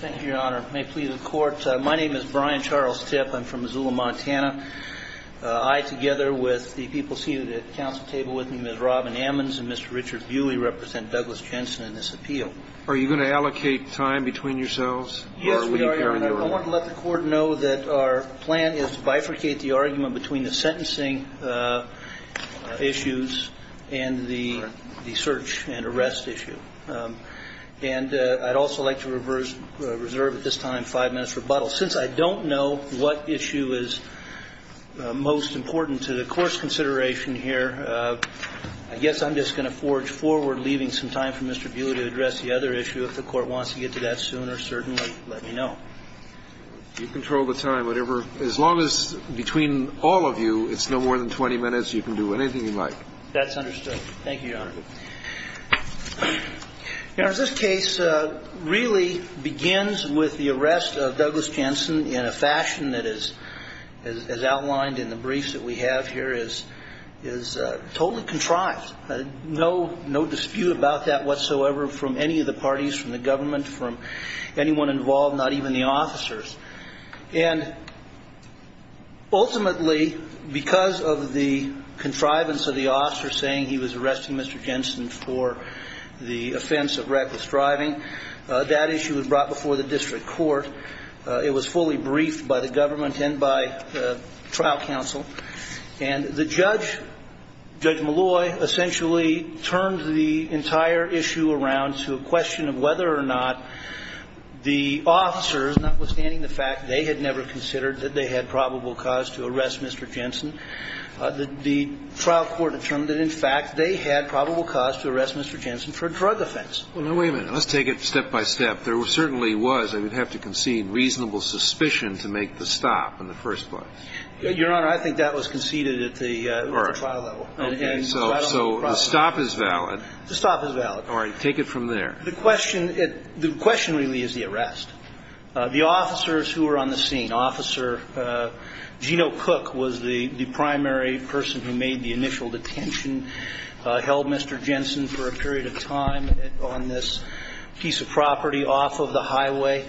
Thank you, Your Honor. My name is Brian Charles Tipp. I'm from Missoula, Montana. I, together with the people seated at the council table with me, Ms. Robin Ammons and Mr. Richard Bewley, represent Douglas Jensen in this appeal. Are you going to allocate time between yourselves? Yes, we are, Your Honor. I want to let the Court know that our plan is to bifurcate the argument between the sentencing issues and the search and arrest issue. And I'd also like to reserve at this time five minutes rebuttal. Since I don't know what issue is most important to the course consideration here, I guess I'm just going to forge forward, leaving some time for Mr. Bewley to address the other issue. If the Court wants to get to that sooner, certainly let me know. You control the time, whatever. As long as, between all of you, it's no more than 20 minutes, you can do anything you like. That's understood. Thank you, Your Honor. Your Honor, this case really begins with the arrest of Douglas Jensen in a fashion that is outlined in the briefs that we have here is totally contrived. No dispute about that whatsoever from any of the parties, from the government, from anyone involved, not even the officers. And ultimately, because of the officers saying he was arresting Mr. Jensen for the offense of reckless driving, that issue was brought before the district court. It was fully briefed by the government and by the trial counsel. And the judge, Judge Malloy, essentially turned the entire issue around to a question of whether or not the officers, notwithstanding the fact they had never considered that they had probable cause to arrest Mr. Jensen, the trial court determined that, in fact, they had probable cause to arrest Mr. Jensen for a drug offense. Well, now, wait a minute. Let's take it step by step. There certainly was, I would have to concede, reasonable suspicion to make the stop in the first place. Your Honor, I think that was conceded at the trial level. All right. Okay. So the stop is valid. The stop is valid. All right. Take it from there. The question really is the arrest. The officers who were on the scene, Officer Geno Cook was the primary person who made the initial detention, held Mr. Jensen for a period of time on this piece of property off of the highway.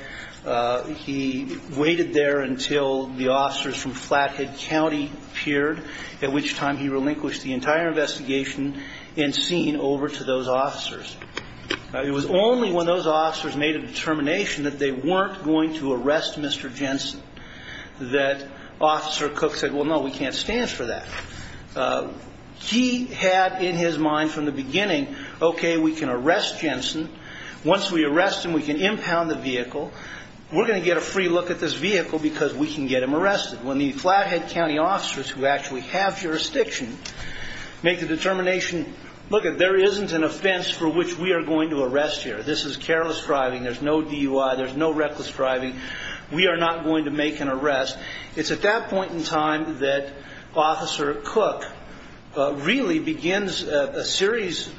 He waited there until the officers from Flathead County appeared, at which time he relinquished the entire investigation and scene over to those officers. It was only when those officers made a determination that they weren't going to arrest Mr. Jensen that Officer Cook said, well, no, we can't stand for that. He had in his mind from the beginning, okay, we can arrest Jensen. Once we arrest him, we can impound the vehicle. We're going to get a free look at this vehicle because we can get him arrested. When the Flathead County officers who actually have jurisdiction make the determination, lookit, there isn't an offense for which we are going to arrest here. This is careless driving. There's no DUI. There's no reckless driving. We are not going to make an arrest. It's at that point in time that Officer Cook really begins a series,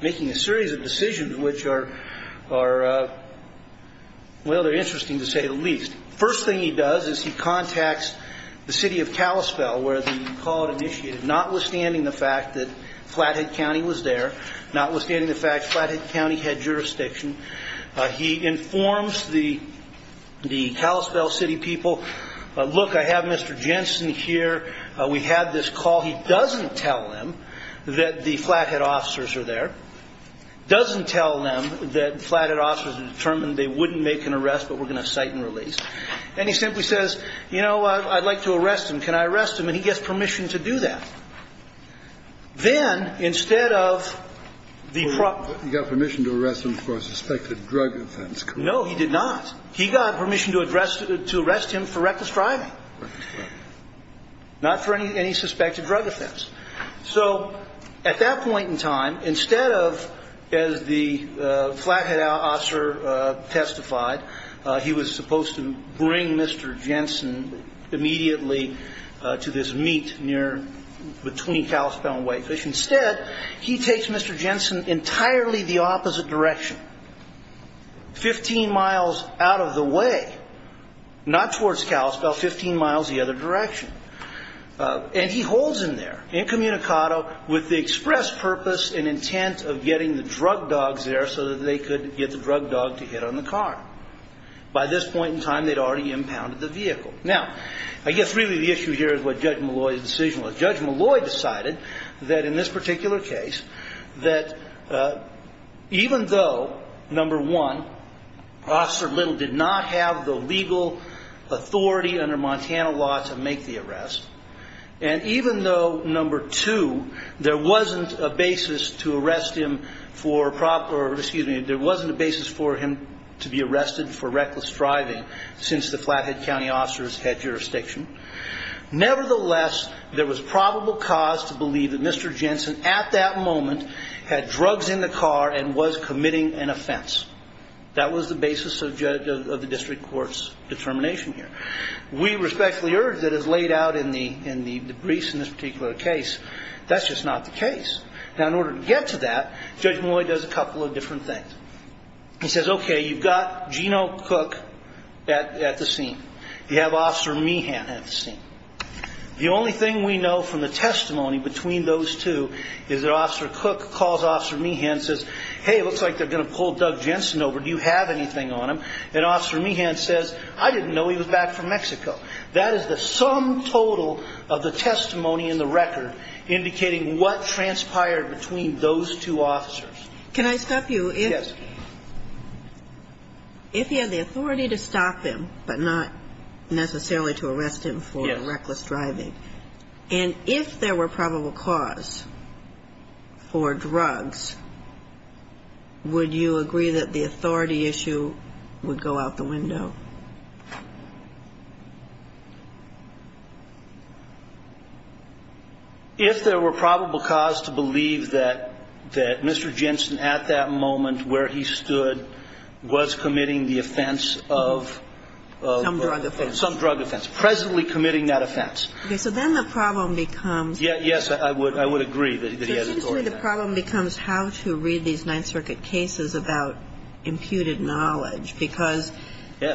making a series of decisions which are, well, they're interesting to say the least. First thing he does is he contacts the city of Kalispell where the call had initiated, notwithstanding the fact that Flathead County was there, notwithstanding the fact Flathead County had jurisdiction. He informs the Kalispell city people, look, I have Mr. Jensen here. We had this call. He doesn't tell them that the Flathead officers are there, doesn't tell them that Flathead officers have determined they wouldn't make an arrest, but we're going to cite and release. And he simply says, you know, I'd like to arrest him. Can I arrest him? And he gets permission to do that. Then, instead of the problem, he got permission to arrest him for a suspected drug offense. No, he did not. He got permission to arrest him for reckless driving, not for any suspected drug offense. So at that point in time, instead of, as the Flathead officer testified, he was supposed to bring Mr. Jensen immediately to this meet between Kalispell and Whitefish. Instead, he takes Mr. Jensen entirely the opposite direction, 15 miles out of the way, not towards Kalispell, 15 miles the other direction. And he holds him there incommunicado with the express purpose and intent of getting the drug dogs there so that they could get the drug dog to hit on the car. By this point in time, they'd already impounded the vehicle. Now, I guess really the issue here is what Judge Malloy's decision was. Judge Malloy decided that in this particular case, that even though, number one, Officer Little did not have the legal authority under Montana law to make the arrest, and even though, number two, there wasn't a basis for him to be arrested for reckless driving since the Flathead County officers had jurisdiction, nevertheless, there was probable cause to believe that Mr. Jensen at that moment had drugs in the car and was committing an offense. That was the basis of the district court's determination here. We respectfully urge that as laid out in the briefs in this particular case, that's just not the case. Now, in order to get to that, Judge Malloy does a couple of different things. He says, okay, you've got Geno Cook at the scene. You have Officer Meehan at the scene. The only thing we know from the testimony between those two is that Officer Cook calls Officer Meehan and says, hey, it looks like they're going to pull Doug Jensen over. Do you have anything on him? And Officer Meehan says, I didn't know he was back from Mexico. That is the sum total of the testimony in the record indicating what transpired between those two officers. Can I stop you? Yes. If he had the authority to stop him but not necessarily to arrest him for reckless driving, and if there were probable cause for drugs, would you agree that the authority issue would go out the window? If there were probable cause to believe that Mr. Jensen, at that moment where he stood, was committing the offense of some drug offense, presently committing that offense. Okay. So then the problem becomes. Yes. I would agree that he has authority. The problem becomes how to read these Ninth Circuit cases about imputed knowledge. Because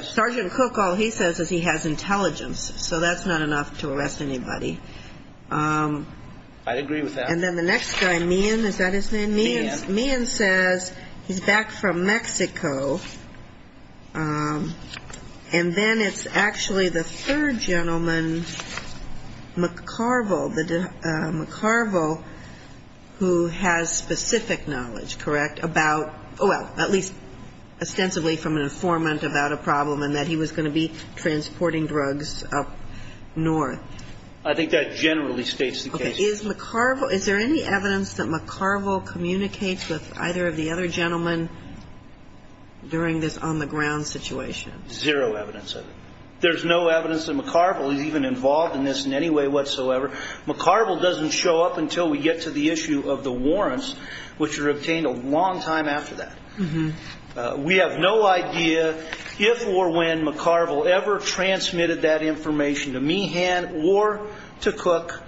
Sergeant Cook, all he says is he has intelligence. So that's not enough to arrest anybody. I'd agree with that. And then the next guy, Meehan, is that his name? Meehan. Meehan says he's back from Mexico, and then it's actually the third gentleman, McCarville, who has specific knowledge, correct, about, oh, well, at least ostensibly from an informant about a problem and that he was going to be transporting drugs up north. I think that generally states the case. Is there any evidence that McCarville communicates with either of the other gentlemen during this on-the-ground situation? Zero evidence of it. There's no evidence that McCarville is even involved in this in any way whatsoever. McCarville doesn't show up until we get to the issue of the warrants, which are obtained a long time after that. We have no idea if or when McCarville ever transmitted that information to Meehan or to Cook.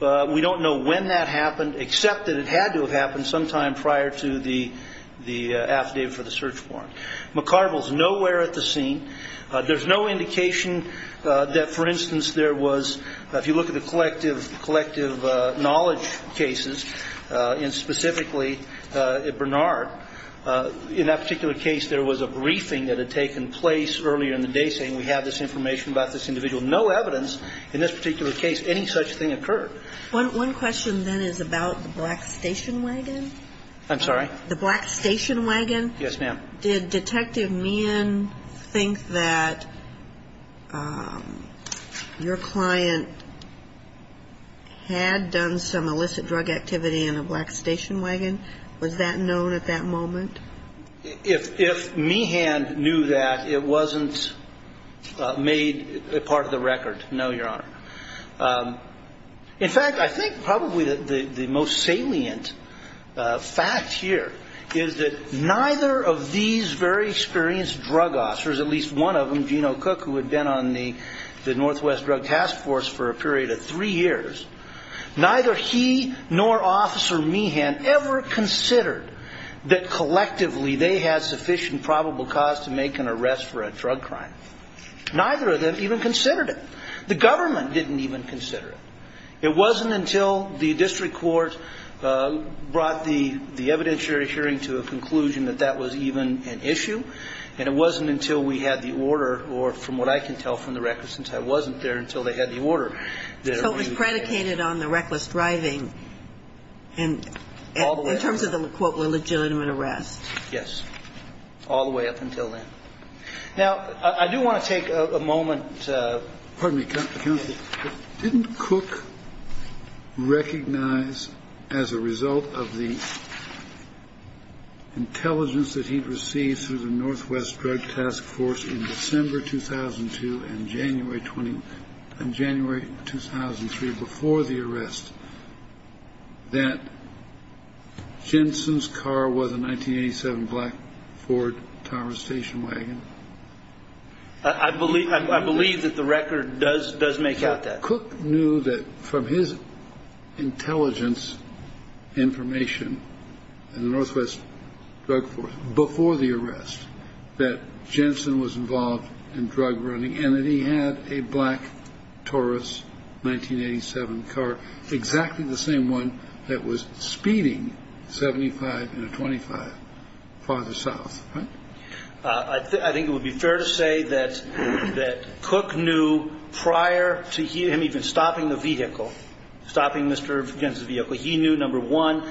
We don't know when that happened, except that it had to have happened sometime prior to the affidavit for the search warrant. McCarville is nowhere at the scene. There's no indication that, for instance, there was, if you look at the collective knowledge cases, and specifically at Bernard, in that particular case, there was a briefing that had taken place earlier in the day saying we have this information about this individual. No evidence in this particular case any such thing occurred. One question, then, is about the black station wagon. I'm sorry? The black station wagon. Yes, ma'am. Did Detective Meehan think that your client had done some illicit drug activity in a black station wagon? Was that known at that moment? If Meehan knew that, it wasn't made part of the record, no, Your Honor. In fact, I think probably the most salient fact here is that neither of these very experienced drug officers, at least one of them, Geno Cook, who had been on the Northwest Drug Task Force for a period of three years, neither he nor Officer Meehan ever considered that collectively they had sufficient probable cause to make an arrest for a drug crime. Neither of them even considered it. The government didn't even consider it. It wasn't until the district court brought the evidentiary hearing to a conclusion that that was even an issue, and it wasn't until we had the order, or from what I can tell from the record since I wasn't there, until they had the order. So it was predicated on the reckless driving in terms of the, quote, illegitimate arrest. Yes. All the way up until then. Now, I do want to take a moment. Pardon me, Counsel. Didn't Cook recognize as a result of the intelligence that he received through the Northwest Drug Task Force in December 2002 and January 2003 before the arrest that Jensen's car was a 1987 black Ford Tower Station wagon? I believe that the record does make out that. Cook knew that from his intelligence information in the Northwest Drug Task Force before the arrest that Jensen was involved in drug running and that he had a black Taurus 1987 car, exactly the same one that was speeding 75 in a 25 farther south, right? I think it would be fair to say that Cook knew prior to him even stopping the vehicle, stopping Mr. Jensen's vehicle, he knew, number one,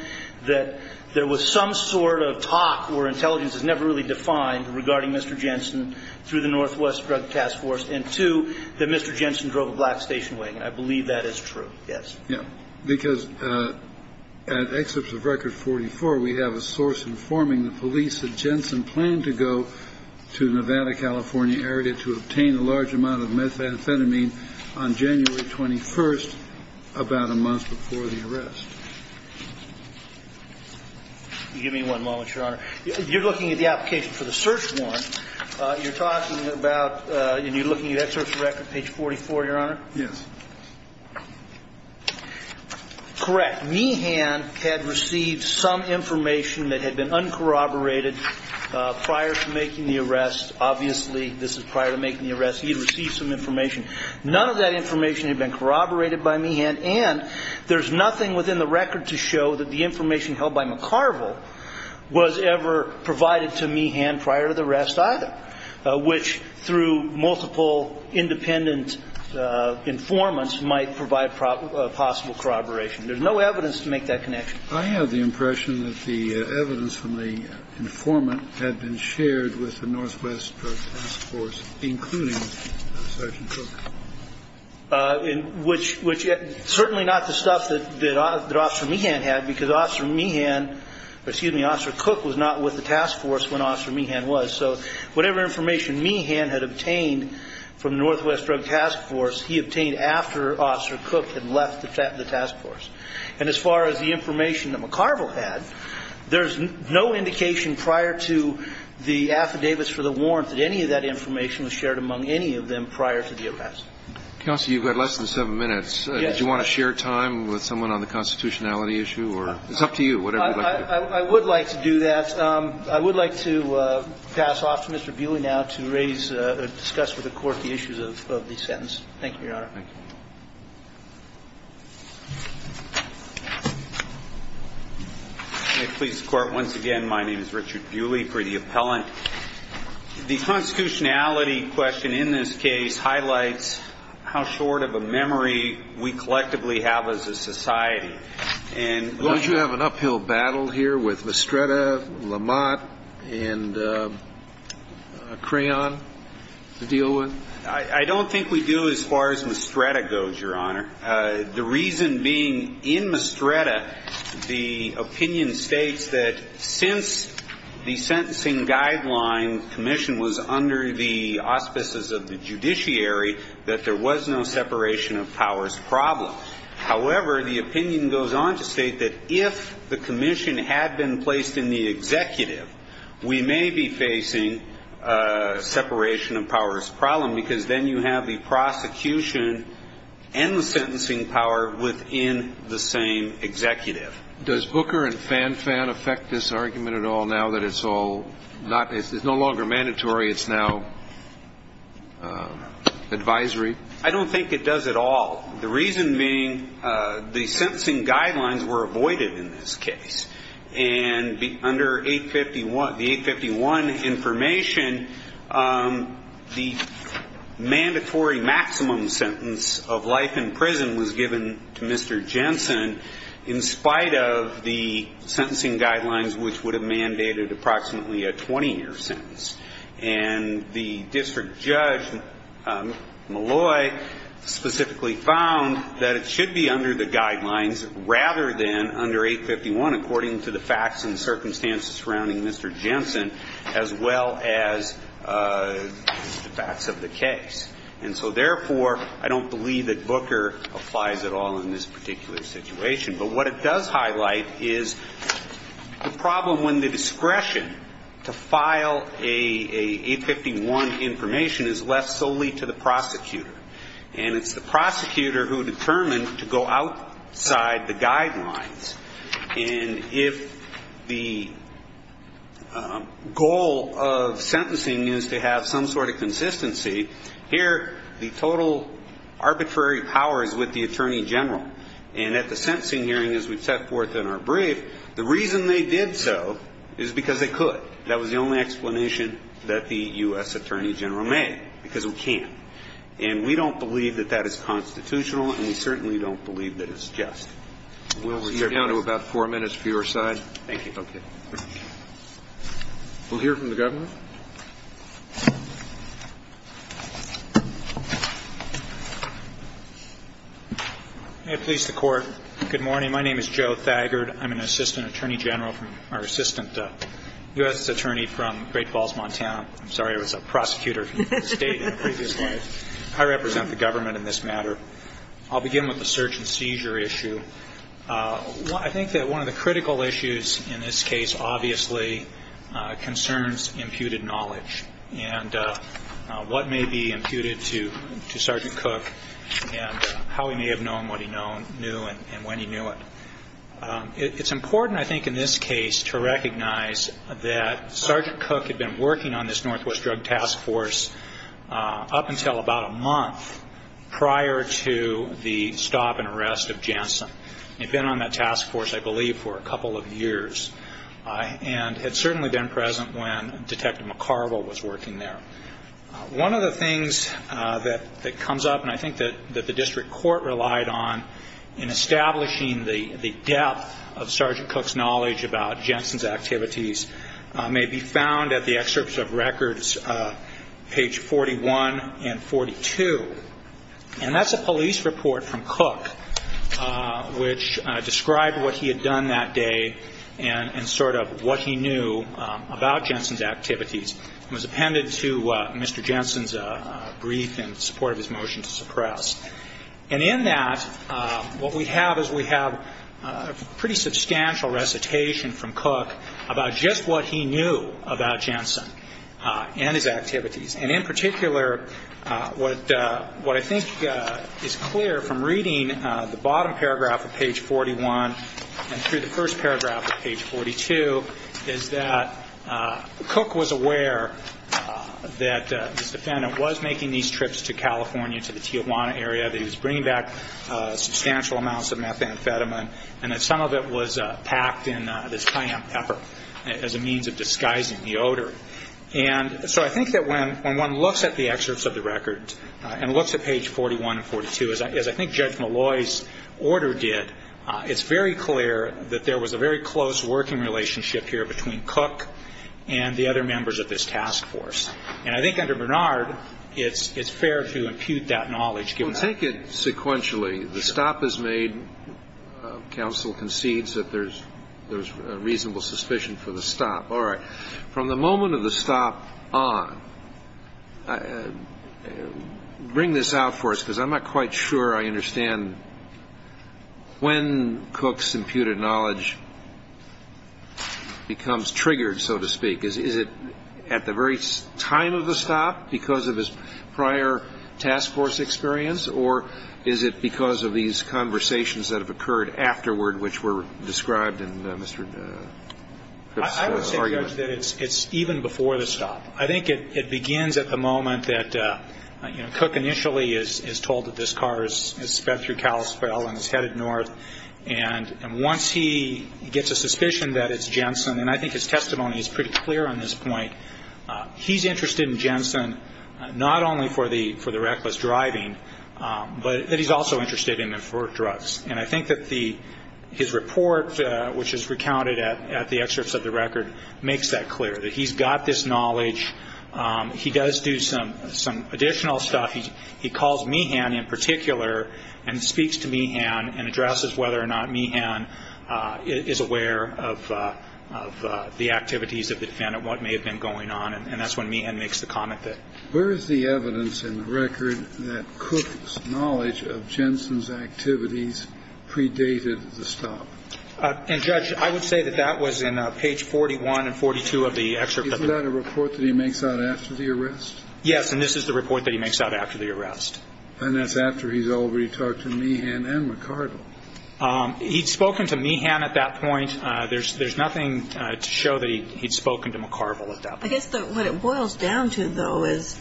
that there was some sort of talk where intelligence is never really defined regarding Mr. Jensen through the Northwest Drug Task Force, and two, that Mr. Jensen drove a black station wagon. I believe that is true. Yes. Because at excerpts of Record 44, we have a source informing the police that Jensen planned to go to Nevada, California area to obtain a large amount of methamphetamine on January 21st, about a month before the arrest. Give me one moment, Your Honor. You're looking at the application for the search warrant. You're talking about and you're looking at excerpts of Record page 44, Your Honor. Yes. Correct. Meehan had received some information that had been uncorroborated prior to making the arrest. Obviously, this is prior to making the arrest. He had received some information. None of that information had been corroborated by Meehan, and there's nothing within the record to show that the information held by McCarville was ever provided to Meehan prior to the arrest either, which through multiple independent informants might provide possible corroboration. There's no evidence to make that connection. I have the impression that the evidence from the informant had been shared with the Northwest Task Force, including Sergeant Cook. Which certainly not the stuff that Officer Meehan had, because Officer Meehan, excuse me, Officer Cook was not with the task force when Officer Meehan was. So whatever information Meehan had obtained from the Northwest Drug Task Force, he obtained after Officer Cook had left the task force. And as far as the information that McCarville had, there's no indication prior to the affidavits for the warrant that any of that information was shared among any of them prior to the arrest. Counsel, you've got less than seven minutes. Yes. Did you want to share time with someone on the constitutionality issue? It's up to you. I would like to do that. I would like to pass off to Mr. Buehle now to raise or discuss with the Court the issues of the sentence. Thank you, Your Honor. Thank you. May it please the Court, once again, my name is Richard Buehle for the appellant. The constitutionality question in this case highlights how short of a memory we collectively have as a society. Don't you have an uphill battle here with Mestreda, Lamont, and Crayon to deal with? I don't think we do as far as Mestreda goes, Your Honor. The reason being, in Mestreda, the opinion states that since the sentencing guideline commission was under the auspices of the judiciary, that there was no separation of powers problem. However, the opinion goes on to state that if the commission had been placed in the executive, we may be facing a separation of powers problem because then you have the prosecution and the sentencing power within the same executive. Does Booker and Fanfan affect this argument at all now that it's all not ñ it's no longer mandatory, it's now advisory? I don't think it does at all. The reason being, the sentencing guidelines were avoided in this case. And under 851, the 851 information, the mandatory maximum sentence of life in prison was given to Mr. Jensen in spite of the sentencing guidelines which would have mandated approximately a 20-year sentence. And the district judge, Malloy, specifically found that it should be under the guidelines rather than under 851 according to the facts and circumstances surrounding Mr. Jensen as well as the facts of the case. And so therefore, I don't believe that Booker applies at all in this particular situation. But what it does highlight is the problem when the discretion to file an 851 information is left solely to the prosecutor. And it's the prosecutor who determines to go outside the guidelines. And if the goal of sentencing is to have some sort of consistency, here the total arbitrary power is with the attorney general. And at the sentencing hearing as we've set forth in our brief, the reason they did so is because they could. That was the only explanation that the U.S. attorney general made, because we can't. And we don't believe that that is constitutional, and we certainly don't believe that it's just. We'll return down to about four minutes for your side. Thank you. Okay. We'll hear from the Governor. May it please the Court. Good morning. My name is Joe Thagard. I'm an assistant attorney general from or assistant U.S. attorney from Great Falls, Montana. I'm sorry, I was a prosecutor for the state in a previous life. I represent the government in this matter. I'll begin with the search and seizure issue. I think that one of the critical issues in this case obviously concerns imputed knowledge and what may be imputed to Sergeant Cook and how he may have known what he knew and when he knew it. It's important, I think, in this case to recognize that Sergeant Cook had been working on this Northwest Drug Task Force up until about a month prior to the stop and arrest of Jensen. He'd been on that task force, I believe, for a couple of years and had certainly been present when Detective McCarville was working there. One of the things that comes up, and I think that the district court relied on, in establishing the depth of Sergeant Cook's knowledge about Jensen's activities, may be found at the excerpts of records page 41 and 42. And that's a police report from Cook which described what he had done that day and sort of what he knew about Jensen's activities. It was appended to Mr. Jensen's brief in support of his motion to suppress. And in that, what we have is we have a pretty substantial recitation from Cook about just what he knew about Jensen and his activities. And in particular, what I think is clear from reading the bottom paragraph of page 41 and through the first paragraph of page 42 is that Cook was aware that this defendant was making these trips to California, to the Tijuana area, that he was bringing back substantial amounts of methamphetamine and that some of it was packed in this cayenne pepper as a means of disguising the odor. And so I think that when one looks at the excerpts of the records and looks at page 41 and 42, as I think Judge Malloy's order did, it's very clear that there was a very close working relationship here between Cook and the other members of this task force. And I think under Bernard, it's fair to impute that knowledge. Well, take it sequentially. The stop is made. Counsel concedes that there's reasonable suspicion for the stop. All right. From the moment of the stop on, bring this out for us, because I'm not quite sure I understand when Cook's imputed knowledge becomes triggered, so to speak. Is it at the very time of the stop because of his prior task force experience, or is it because of these conversations that have occurred afterward which were described in Mr. Cook's argument? I would say, Judge, that it's even before the stop. I think it begins at the moment that, you know, Cook initially is told that this car has sped through Kalispell and is headed north. And once he gets a suspicion that it's Jensen, and I think his testimony is pretty clear on this point, he's interested in Jensen not only for the reckless driving, but that he's also interested in it for drugs. And I think that his report, which is recounted at the excerpts of the record, makes that clear, that he's got this knowledge. He does do some additional stuff. He calls Meehan in particular and speaks to Meehan and addresses whether or not Meehan is aware of the activities of the defendant, what may have been going on, and that's when Meehan makes the comment that. Where is the evidence in the record that Cook's knowledge of Jensen's activities predated the stop? And, Judge, I would say that that was in page 41 and 42 of the excerpt. Isn't that a report that he makes out after the arrest? Yes, and this is the report that he makes out after the arrest. And that's after he's already talked to Meehan and McCarville. He'd spoken to Meehan at that point. There's nothing to show that he'd spoken to McCarville at that point. I guess what it boils down to, though, is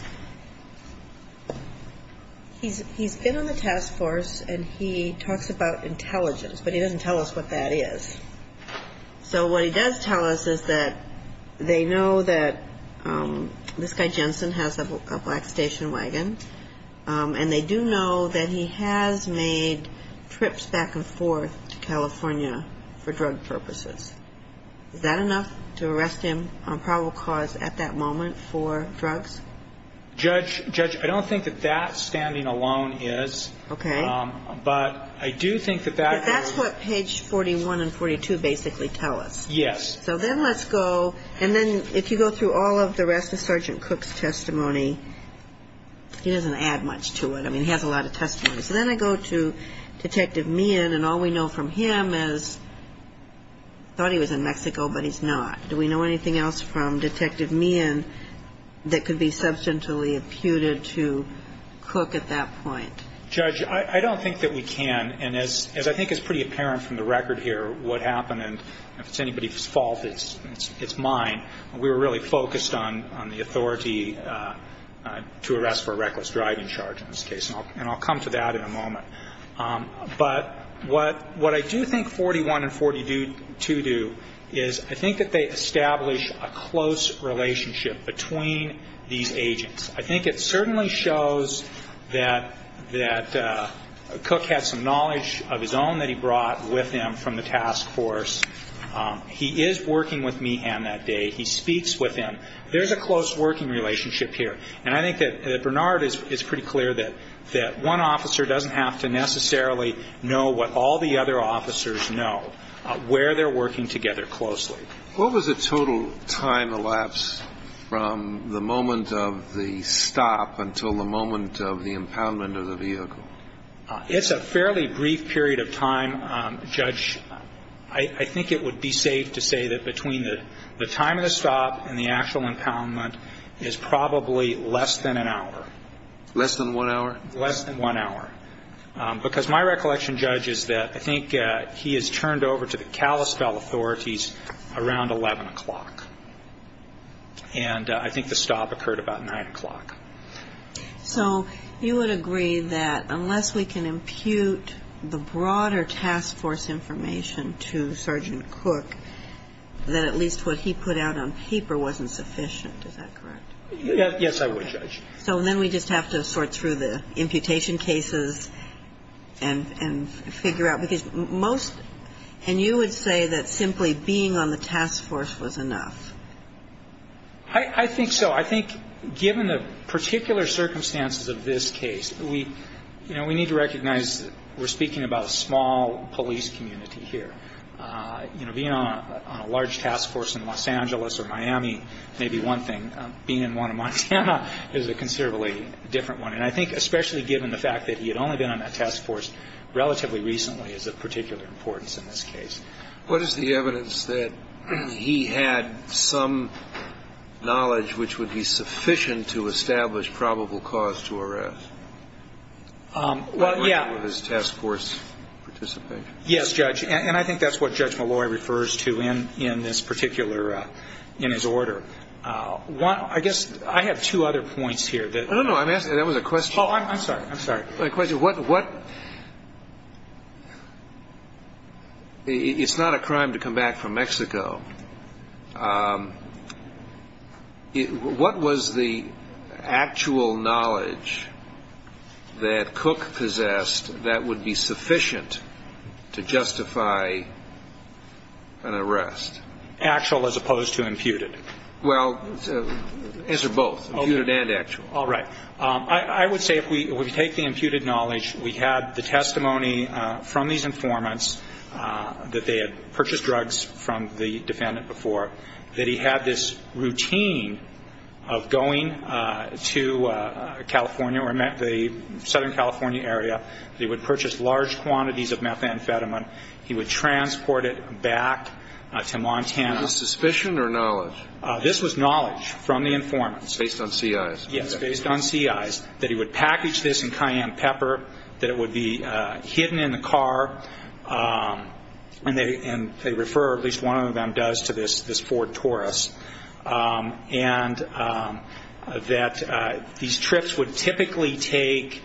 he's been on the task force and he talks about intelligence, but he doesn't tell us what that is. So what he does tell us is that they know that this guy Jensen has a black station wagon and they do know that he has made trips back and forth to California for drug purposes. Is that enough to arrest him on probable cause at that moment for drugs? Judge, I don't think that that standing alone is. Okay. But I do think that that. But that's what page 41 and 42 basically tell us. Yes. So then let's go. And then if you go through all of the rest of Sergeant Cook's testimony, he doesn't add much to it. I mean, he has a lot of testimony. So then I go to Detective Meehan, and all we know from him is thought he was in Mexico, but he's not. Do we know anything else from Detective Meehan that could be substantially imputed to Cook at that point? Judge, I don't think that we can. And as I think is pretty apparent from the record here, what happened, and if it's anybody's fault, it's mine. We were really focused on the authority to arrest for reckless driving charge in this case, and I'll come to that in a moment. But what I do think 41 and 42 do is I think that they establish a close relationship between these agents. I think it certainly shows that Cook had some knowledge of his own that he brought with him from the task force. He is working with Meehan that day. He speaks with him. There's a close working relationship here. And I think that Bernard is pretty clear that one officer doesn't have to necessarily know what all the other officers know, where they're working together closely. What was the total time elapsed from the moment of the stop until the moment of the impoundment of the vehicle? It's a fairly brief period of time, Judge. I think it would be safe to say that between the time of the stop and the actual impoundment is probably less than an hour. Less than one hour? Less than one hour. Because my recollection, Judge, is that I think he is turned over to the Kalispell authorities around 11 o'clock. And I think the stop occurred about 9 o'clock. So you would agree that unless we can impute the broader task force information to Sergeant Cook, that at least what he put out on paper wasn't sufficient. Yes, I would, Judge. So then we just have to sort through the imputation cases and figure out, because most, and you would say that simply being on the task force was enough. I think so. I think given the particular circumstances of this case, we need to recognize that we're speaking about a small police community here. You know, being on a large task force in Los Angeles or Miami may be one thing. Being in one in Montana is a considerably different one. And I think especially given the fact that he had only been on that task force relatively recently is of particular importance in this case. What is the evidence that he had some knowledge which would be sufficient to establish probable cause to arrest? Well, yeah. With his task force participation? Yes, Judge. And I think that's what Judge Malloy refers to in this particular, in his order. I guess I have two other points here. No, no. That was a question. Oh, I'm sorry. I'm sorry. It's not a crime to come back from Mexico. What was the actual knowledge that Cook possessed that would be sufficient to justify an arrest? Actual as opposed to imputed. Well, answer both, imputed and actual. All right. I would say if we take the imputed knowledge, we had the testimony from these informants that they had purchased drugs from the defendant before, that he had this routine of going to California or the Southern California area. They would purchase large quantities of methamphetamine. He would transport it back to Montana. Was it suspicion or knowledge? This was knowledge from the informants. Based on CIs. Yes, based on CIs, that he would package this in cayenne pepper, that it would be hidden in the car. And they refer, at least one of them does, to this Ford Taurus. And that these trips would typically take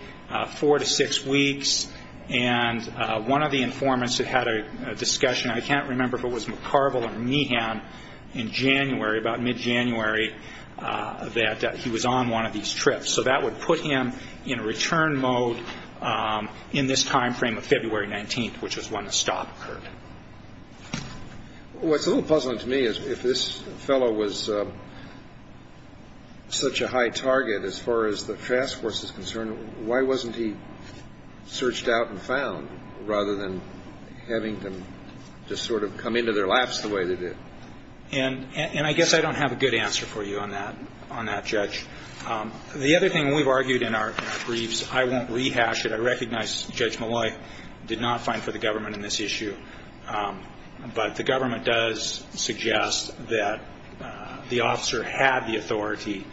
four to six weeks. And one of the informants had had a discussion. I can't remember if it was McCarville or Meehan in January, about mid-January, that he was on one of these trips. So that would put him in a return mode in this time frame of February 19th, which was when the stop occurred. What's a little puzzling to me is if this fellow was such a high target as far as the fast course is concerned, why wasn't he searched out and found rather than having them just sort of come into their laps the way they did? And I guess I don't have a good answer for you on that, Judge. The other thing we've argued in our briefs, I won't rehash it. I recognize Judge Molloy did not find for the government in this issue. But the government does suggest that the officer had the authority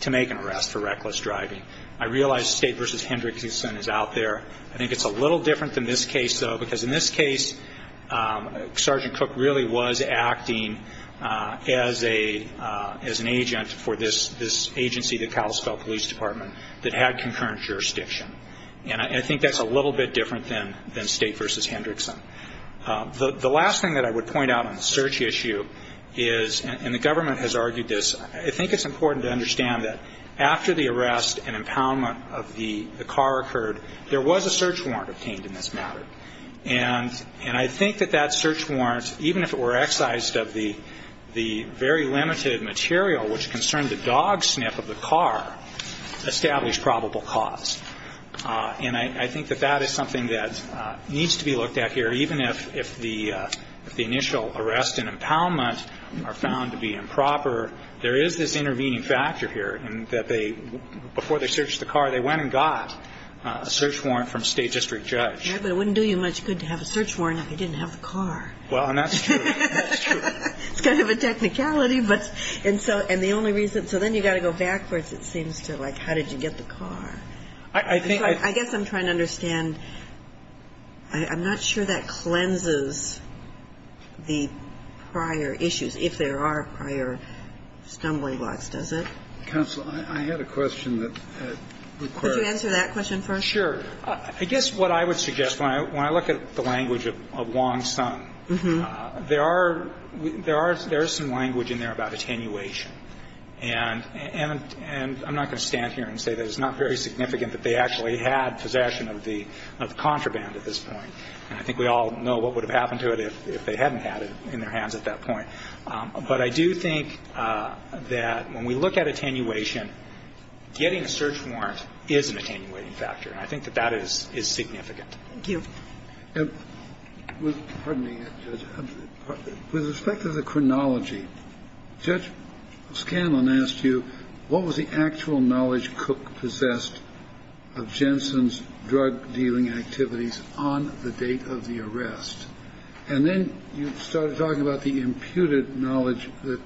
to make an arrest for reckless driving. I realize State v. Hendrickson is out there. I think it's a little different than this case, though, because in this case Sergeant Cook really was acting as an agent for this agency, the Kalispell Police Department, that had concurrent jurisdiction. And I think that's a little bit different than State v. Hendrickson. The last thing that I would point out on the search issue is, and the government has argued this, I think it's important to understand that after the arrest and impoundment of the car occurred, there was a search warrant obtained in this matter. And I think that that search warrant, even if it were excised of the very limited material which concerned the dog sniff of the car, established probable cause. And I think that that is something that needs to be looked at here. Even if the initial arrest and impoundment are found to be improper, there is this intervening factor here, and that they, before they searched the car, they went and got a search warrant from a State district judge. Yeah, but it wouldn't do you much good to have a search warrant if you didn't have the car. Well, and that's true. That's true. It's kind of a technicality, but, and so, and the only reason. So then you've got to go backwards, it seems, to like, how did you get the car? I think. I guess I'm trying to understand. I'm not sure that cleanses the prior issues, if there are prior stumbling blocks, does it? Counsel, I had a question that required. Could you answer that question first? Sure. I guess what I would suggest, when I look at the language of Wong-Sun, there are, there is some language in there about attenuation. And I'm not going to stand here and say that it's not very significant that they actually had possession of the contraband at this point. And I think we all know what would have happened to it if they hadn't had it in their hands at that point. But I do think that when we look at attenuation, getting a search warrant is an attenuating factor, and I think that that is significant. Thank you. Pardon me, Judge. With respect to the chronology, Judge Scanlon asked you, what was the actual knowledge Cook possessed of Jensen's drug dealing activities on the date of the arrest? And then you started talking about the imputed knowledge that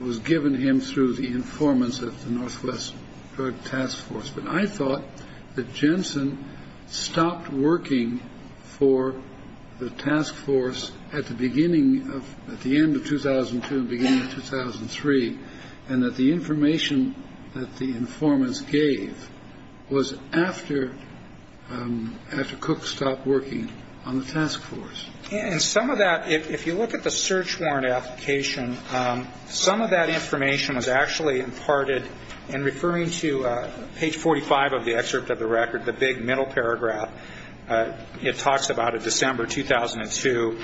was given to him through the informants of the Northwest Drug Task Force. But I thought that Jensen stopped working for the task force at the beginning of, at the end of 2002 and beginning of 2003, and that the information that the informants gave was after, after Cook stopped working on the task force. And some of that, if you look at the search warrant application, some of that information was actually imparted in referring to page 45 of the excerpt of the record, the big middle paragraph. It talks about a December 2002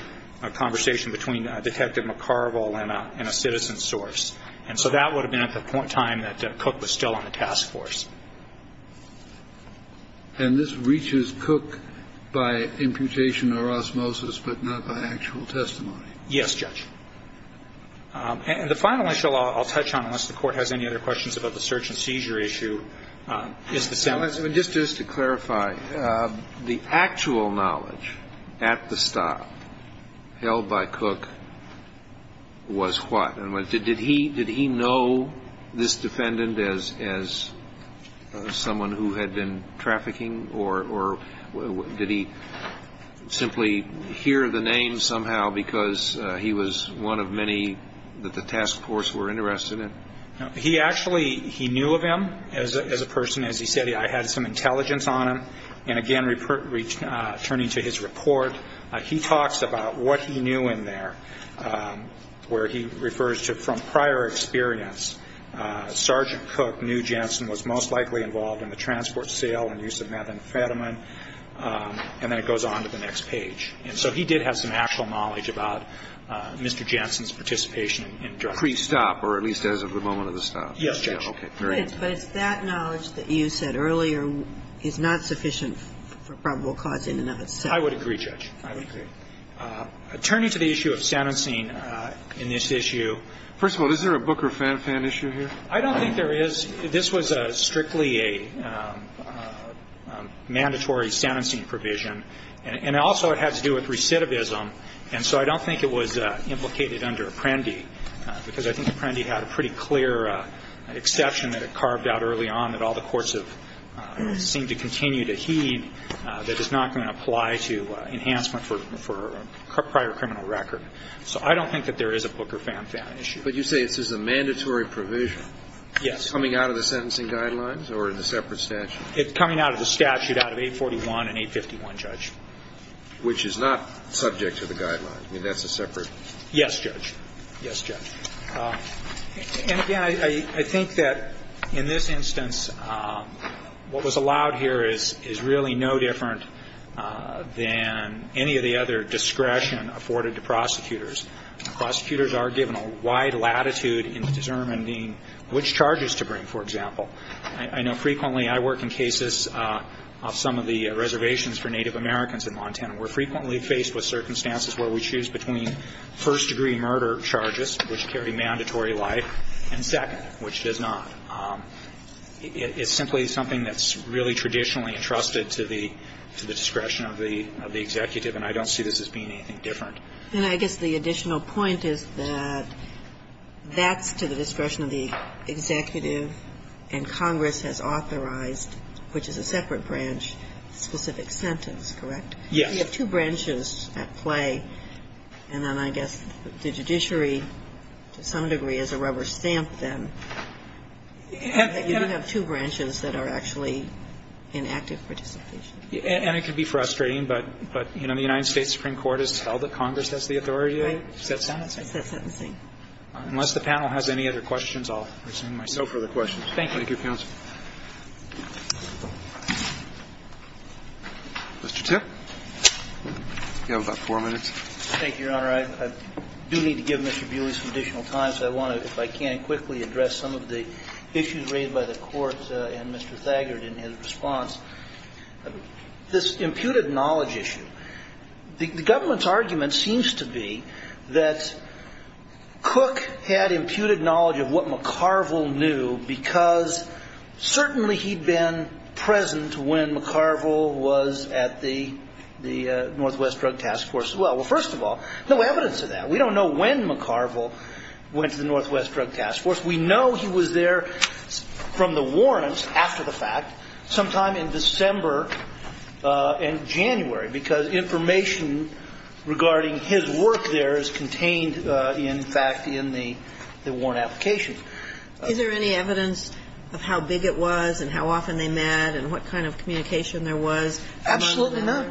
conversation between Detective McCarvel and a citizen source. And so that would have been at the point in time that Cook was still on the task force. And this reaches Cook by imputation or osmosis, but not by actual testimony? Yes, Judge. And the final issue I'll touch on, unless the Court has any other questions about the search and seizure issue, is the sentence. Just to clarify, the actual knowledge at the stop held by Cook was what? Did he know this defendant as someone who had been trafficking, or did he simply hear the name somehow because he was one of many that the task force were interested in? He actually, he knew of him as a person. As he said, I had some intelligence on him. And again, returning to his report, he talks about what he knew in there, where he refers to, from prior experience, Sergeant Cook knew Jensen was most likely involved in the transport sale and use of methamphetamine. And then it goes on to the next page. And so he did have some actual knowledge about Mr. Jensen's participation in drug trafficking. Pre-stop, or at least as of the moment of the stop? Yes, Judge. But it's that knowledge that you said earlier is not sufficient for probable cause in and of itself. I would agree, Judge. I would agree. Turning to the issue of sentencing in this issue. First of all, is there a Booker-Fan-Fan issue here? I don't think there is. This was strictly a mandatory sentencing provision. And also it had to do with recidivism. And so I don't think it was implicated under Apprendi. Because I think Apprendi had a pretty clear exception that it carved out early on that all the courts have seemed to continue to heed that is not going to apply to enhancement for a prior criminal record. So I don't think that there is a Booker-Fan-Fan issue. But you say this is a mandatory provision. Yes. Coming out of the sentencing guidelines or in the separate statute? Coming out of the statute out of 841 and 851, Judge. Which is not subject to the guidelines. I mean, that's a separate. Yes, Judge. Yes, Judge. And again, I think that in this instance what was allowed here is really no different than any of the other discretion afforded to prosecutors. Prosecutors are given a wide latitude in determining which charges to bring, for example. I know frequently I work in cases of some of the reservations for Native Americans in Montana. We're frequently faced with circumstances where we choose between first-degree murder charges, which carry mandatory life, and second, which does not. It's simply something that's really traditionally entrusted to the discretion of the executive, and I don't see this as being anything different. And I guess the additional point is that that's to the discretion of the executive and Congress has authorized, which is a separate branch, specific sentence, correct? Yes. You have two branches at play, and then I guess the judiciary, to some degree, is a rubber stamp then. You do have two branches that are actually in active participation. And it can be frustrating, but, you know, the United States Supreme Court has held that Congress has the authority to set sentencing. Set sentencing. Unless the panel has any other questions, I'll resume myself. No further questions. Thank you. Thank you, counsel. Mr. Tipp. You have about four minutes. Thank you, Your Honor. I do need to give Mr. Bewley some additional time, so I want to, if I can, quickly address some of the issues raised by the Court and Mr. Thaggart in his response. This imputed knowledge issue. The government's argument seems to be that Cook had imputed knowledge of what McCarville knew because certainly he'd been present when McCarville was at the Northwest Drug Task Force as well. Well, first of all, no evidence of that. We don't know when McCarville went to the Northwest Drug Task Force. We know he was there from the warrants after the fact sometime in December and January, because information regarding his work there is contained, in fact, in the warrant application. Is there any evidence of how big it was and how often they met and what kind of communication there was among the members? Absolutely not.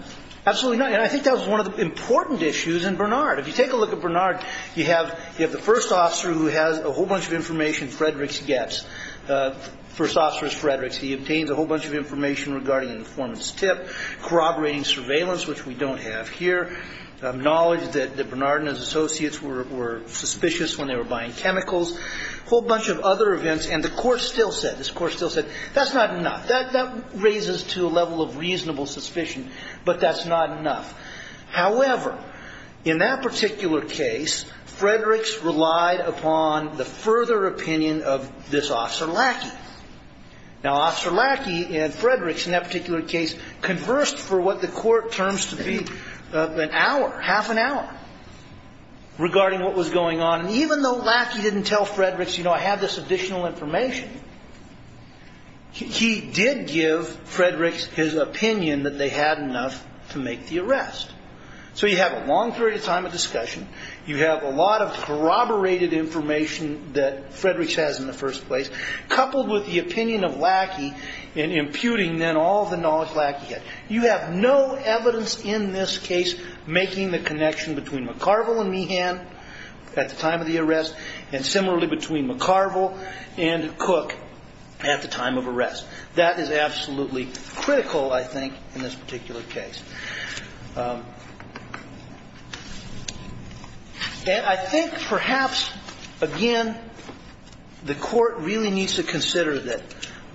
Absolutely not. And I think that was one of the important issues in Bernard. If you take a look at Bernard, you have the first officer who has a whole bunch of information Frederick gets. First officer is Frederick. He obtains a whole bunch of information regarding an informant's tip, corroborating surveillance, which we don't have here, knowledge that Bernard and his associates were suspicious when they were buying chemicals, a whole bunch of other events. And the court still said, this court still said, that's not enough. That raises to a level of reasonable suspicion, but that's not enough. However, in that particular case, Frederick's relied upon the further opinion of this officer Lackey. Now, Officer Lackey and Frederick, in that particular case, conversed for what the court terms to be an hour, half an hour, regarding what was going on. And even though Lackey didn't tell Frederick, you know, I have this additional information, he did give Frederick his opinion that they had enough to make the arrest. So you have a long period of time of discussion. You have a lot of corroborated information that Frederick has in the first place, coupled with the opinion of Lackey in imputing then all the knowledge Lackey had. You have no evidence in this case making the connection between McCarville and Meehan at the time of the arrest, and similarly between McCarville and Cook at the time of arrest. That is absolutely critical, I think, in this particular case. And I think perhaps, again, the court really needs to consider that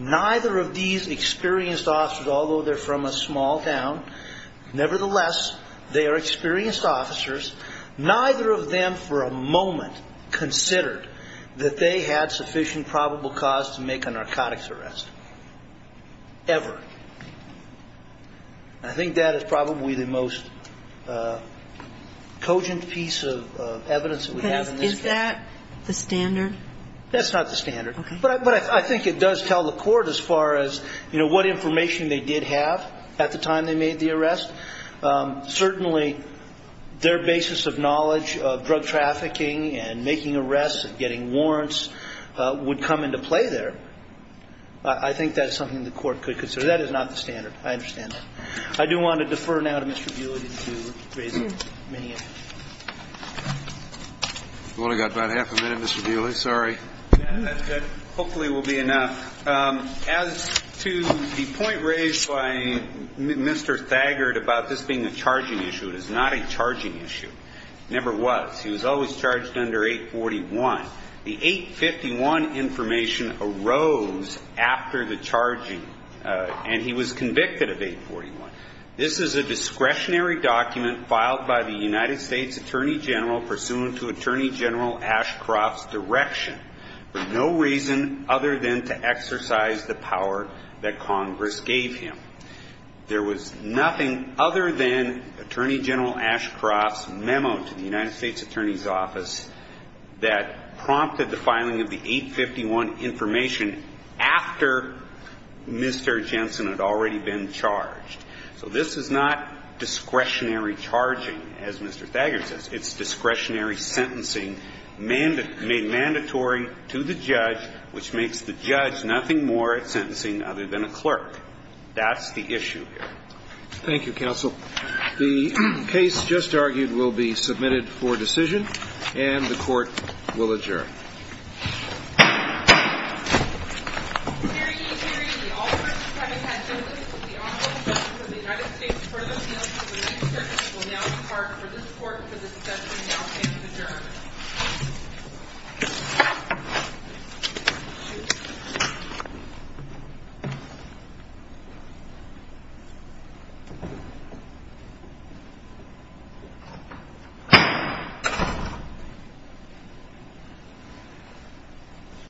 neither of these experienced officers, although they're from a small town, nevertheless, they are experienced officers. Neither of them for a moment considered that they had sufficient probable cause to make a narcotics arrest, ever. I think that is probably the most cogent piece of evidence that we have in this case. Is that the standard? That's not the standard. Okay. But I think it does tell the court as far as, you know, what information they did have at the time they made the arrest. Certainly, their basis of knowledge of drug trafficking and making arrests and getting warrants would come into play there. I think that's something the court could consider. But that is not the standard. I understand that. I do want to defer now to Mr. Buehler to raise Meehan. We've only got about half a minute, Mr. Buehler. Sorry. Yeah, that's good. Hopefully it will be enough. As to the point raised by Mr. Thagard about this being a charging issue, it is not a charging issue. It never was. He was always charged under 841. The 851 information arose after the charging, and he was convicted of 841. This is a discretionary document filed by the United States Attorney General pursuant to Attorney General Ashcroft's direction for no reason other than to exercise the power that Congress gave him. There was nothing other than Attorney General Ashcroft's memo to the United States Attorney General that prompted the filing of the 851 information after Mr. Jensen had already been charged. So this is not discretionary charging, as Mr. Thagard says. It's discretionary sentencing made mandatory to the judge, which makes the judge nothing more at sentencing other than a clerk. That's the issue here. Thank you, counsel. The case just argued will be submitted for decision, and the court will adjourn. Thank you.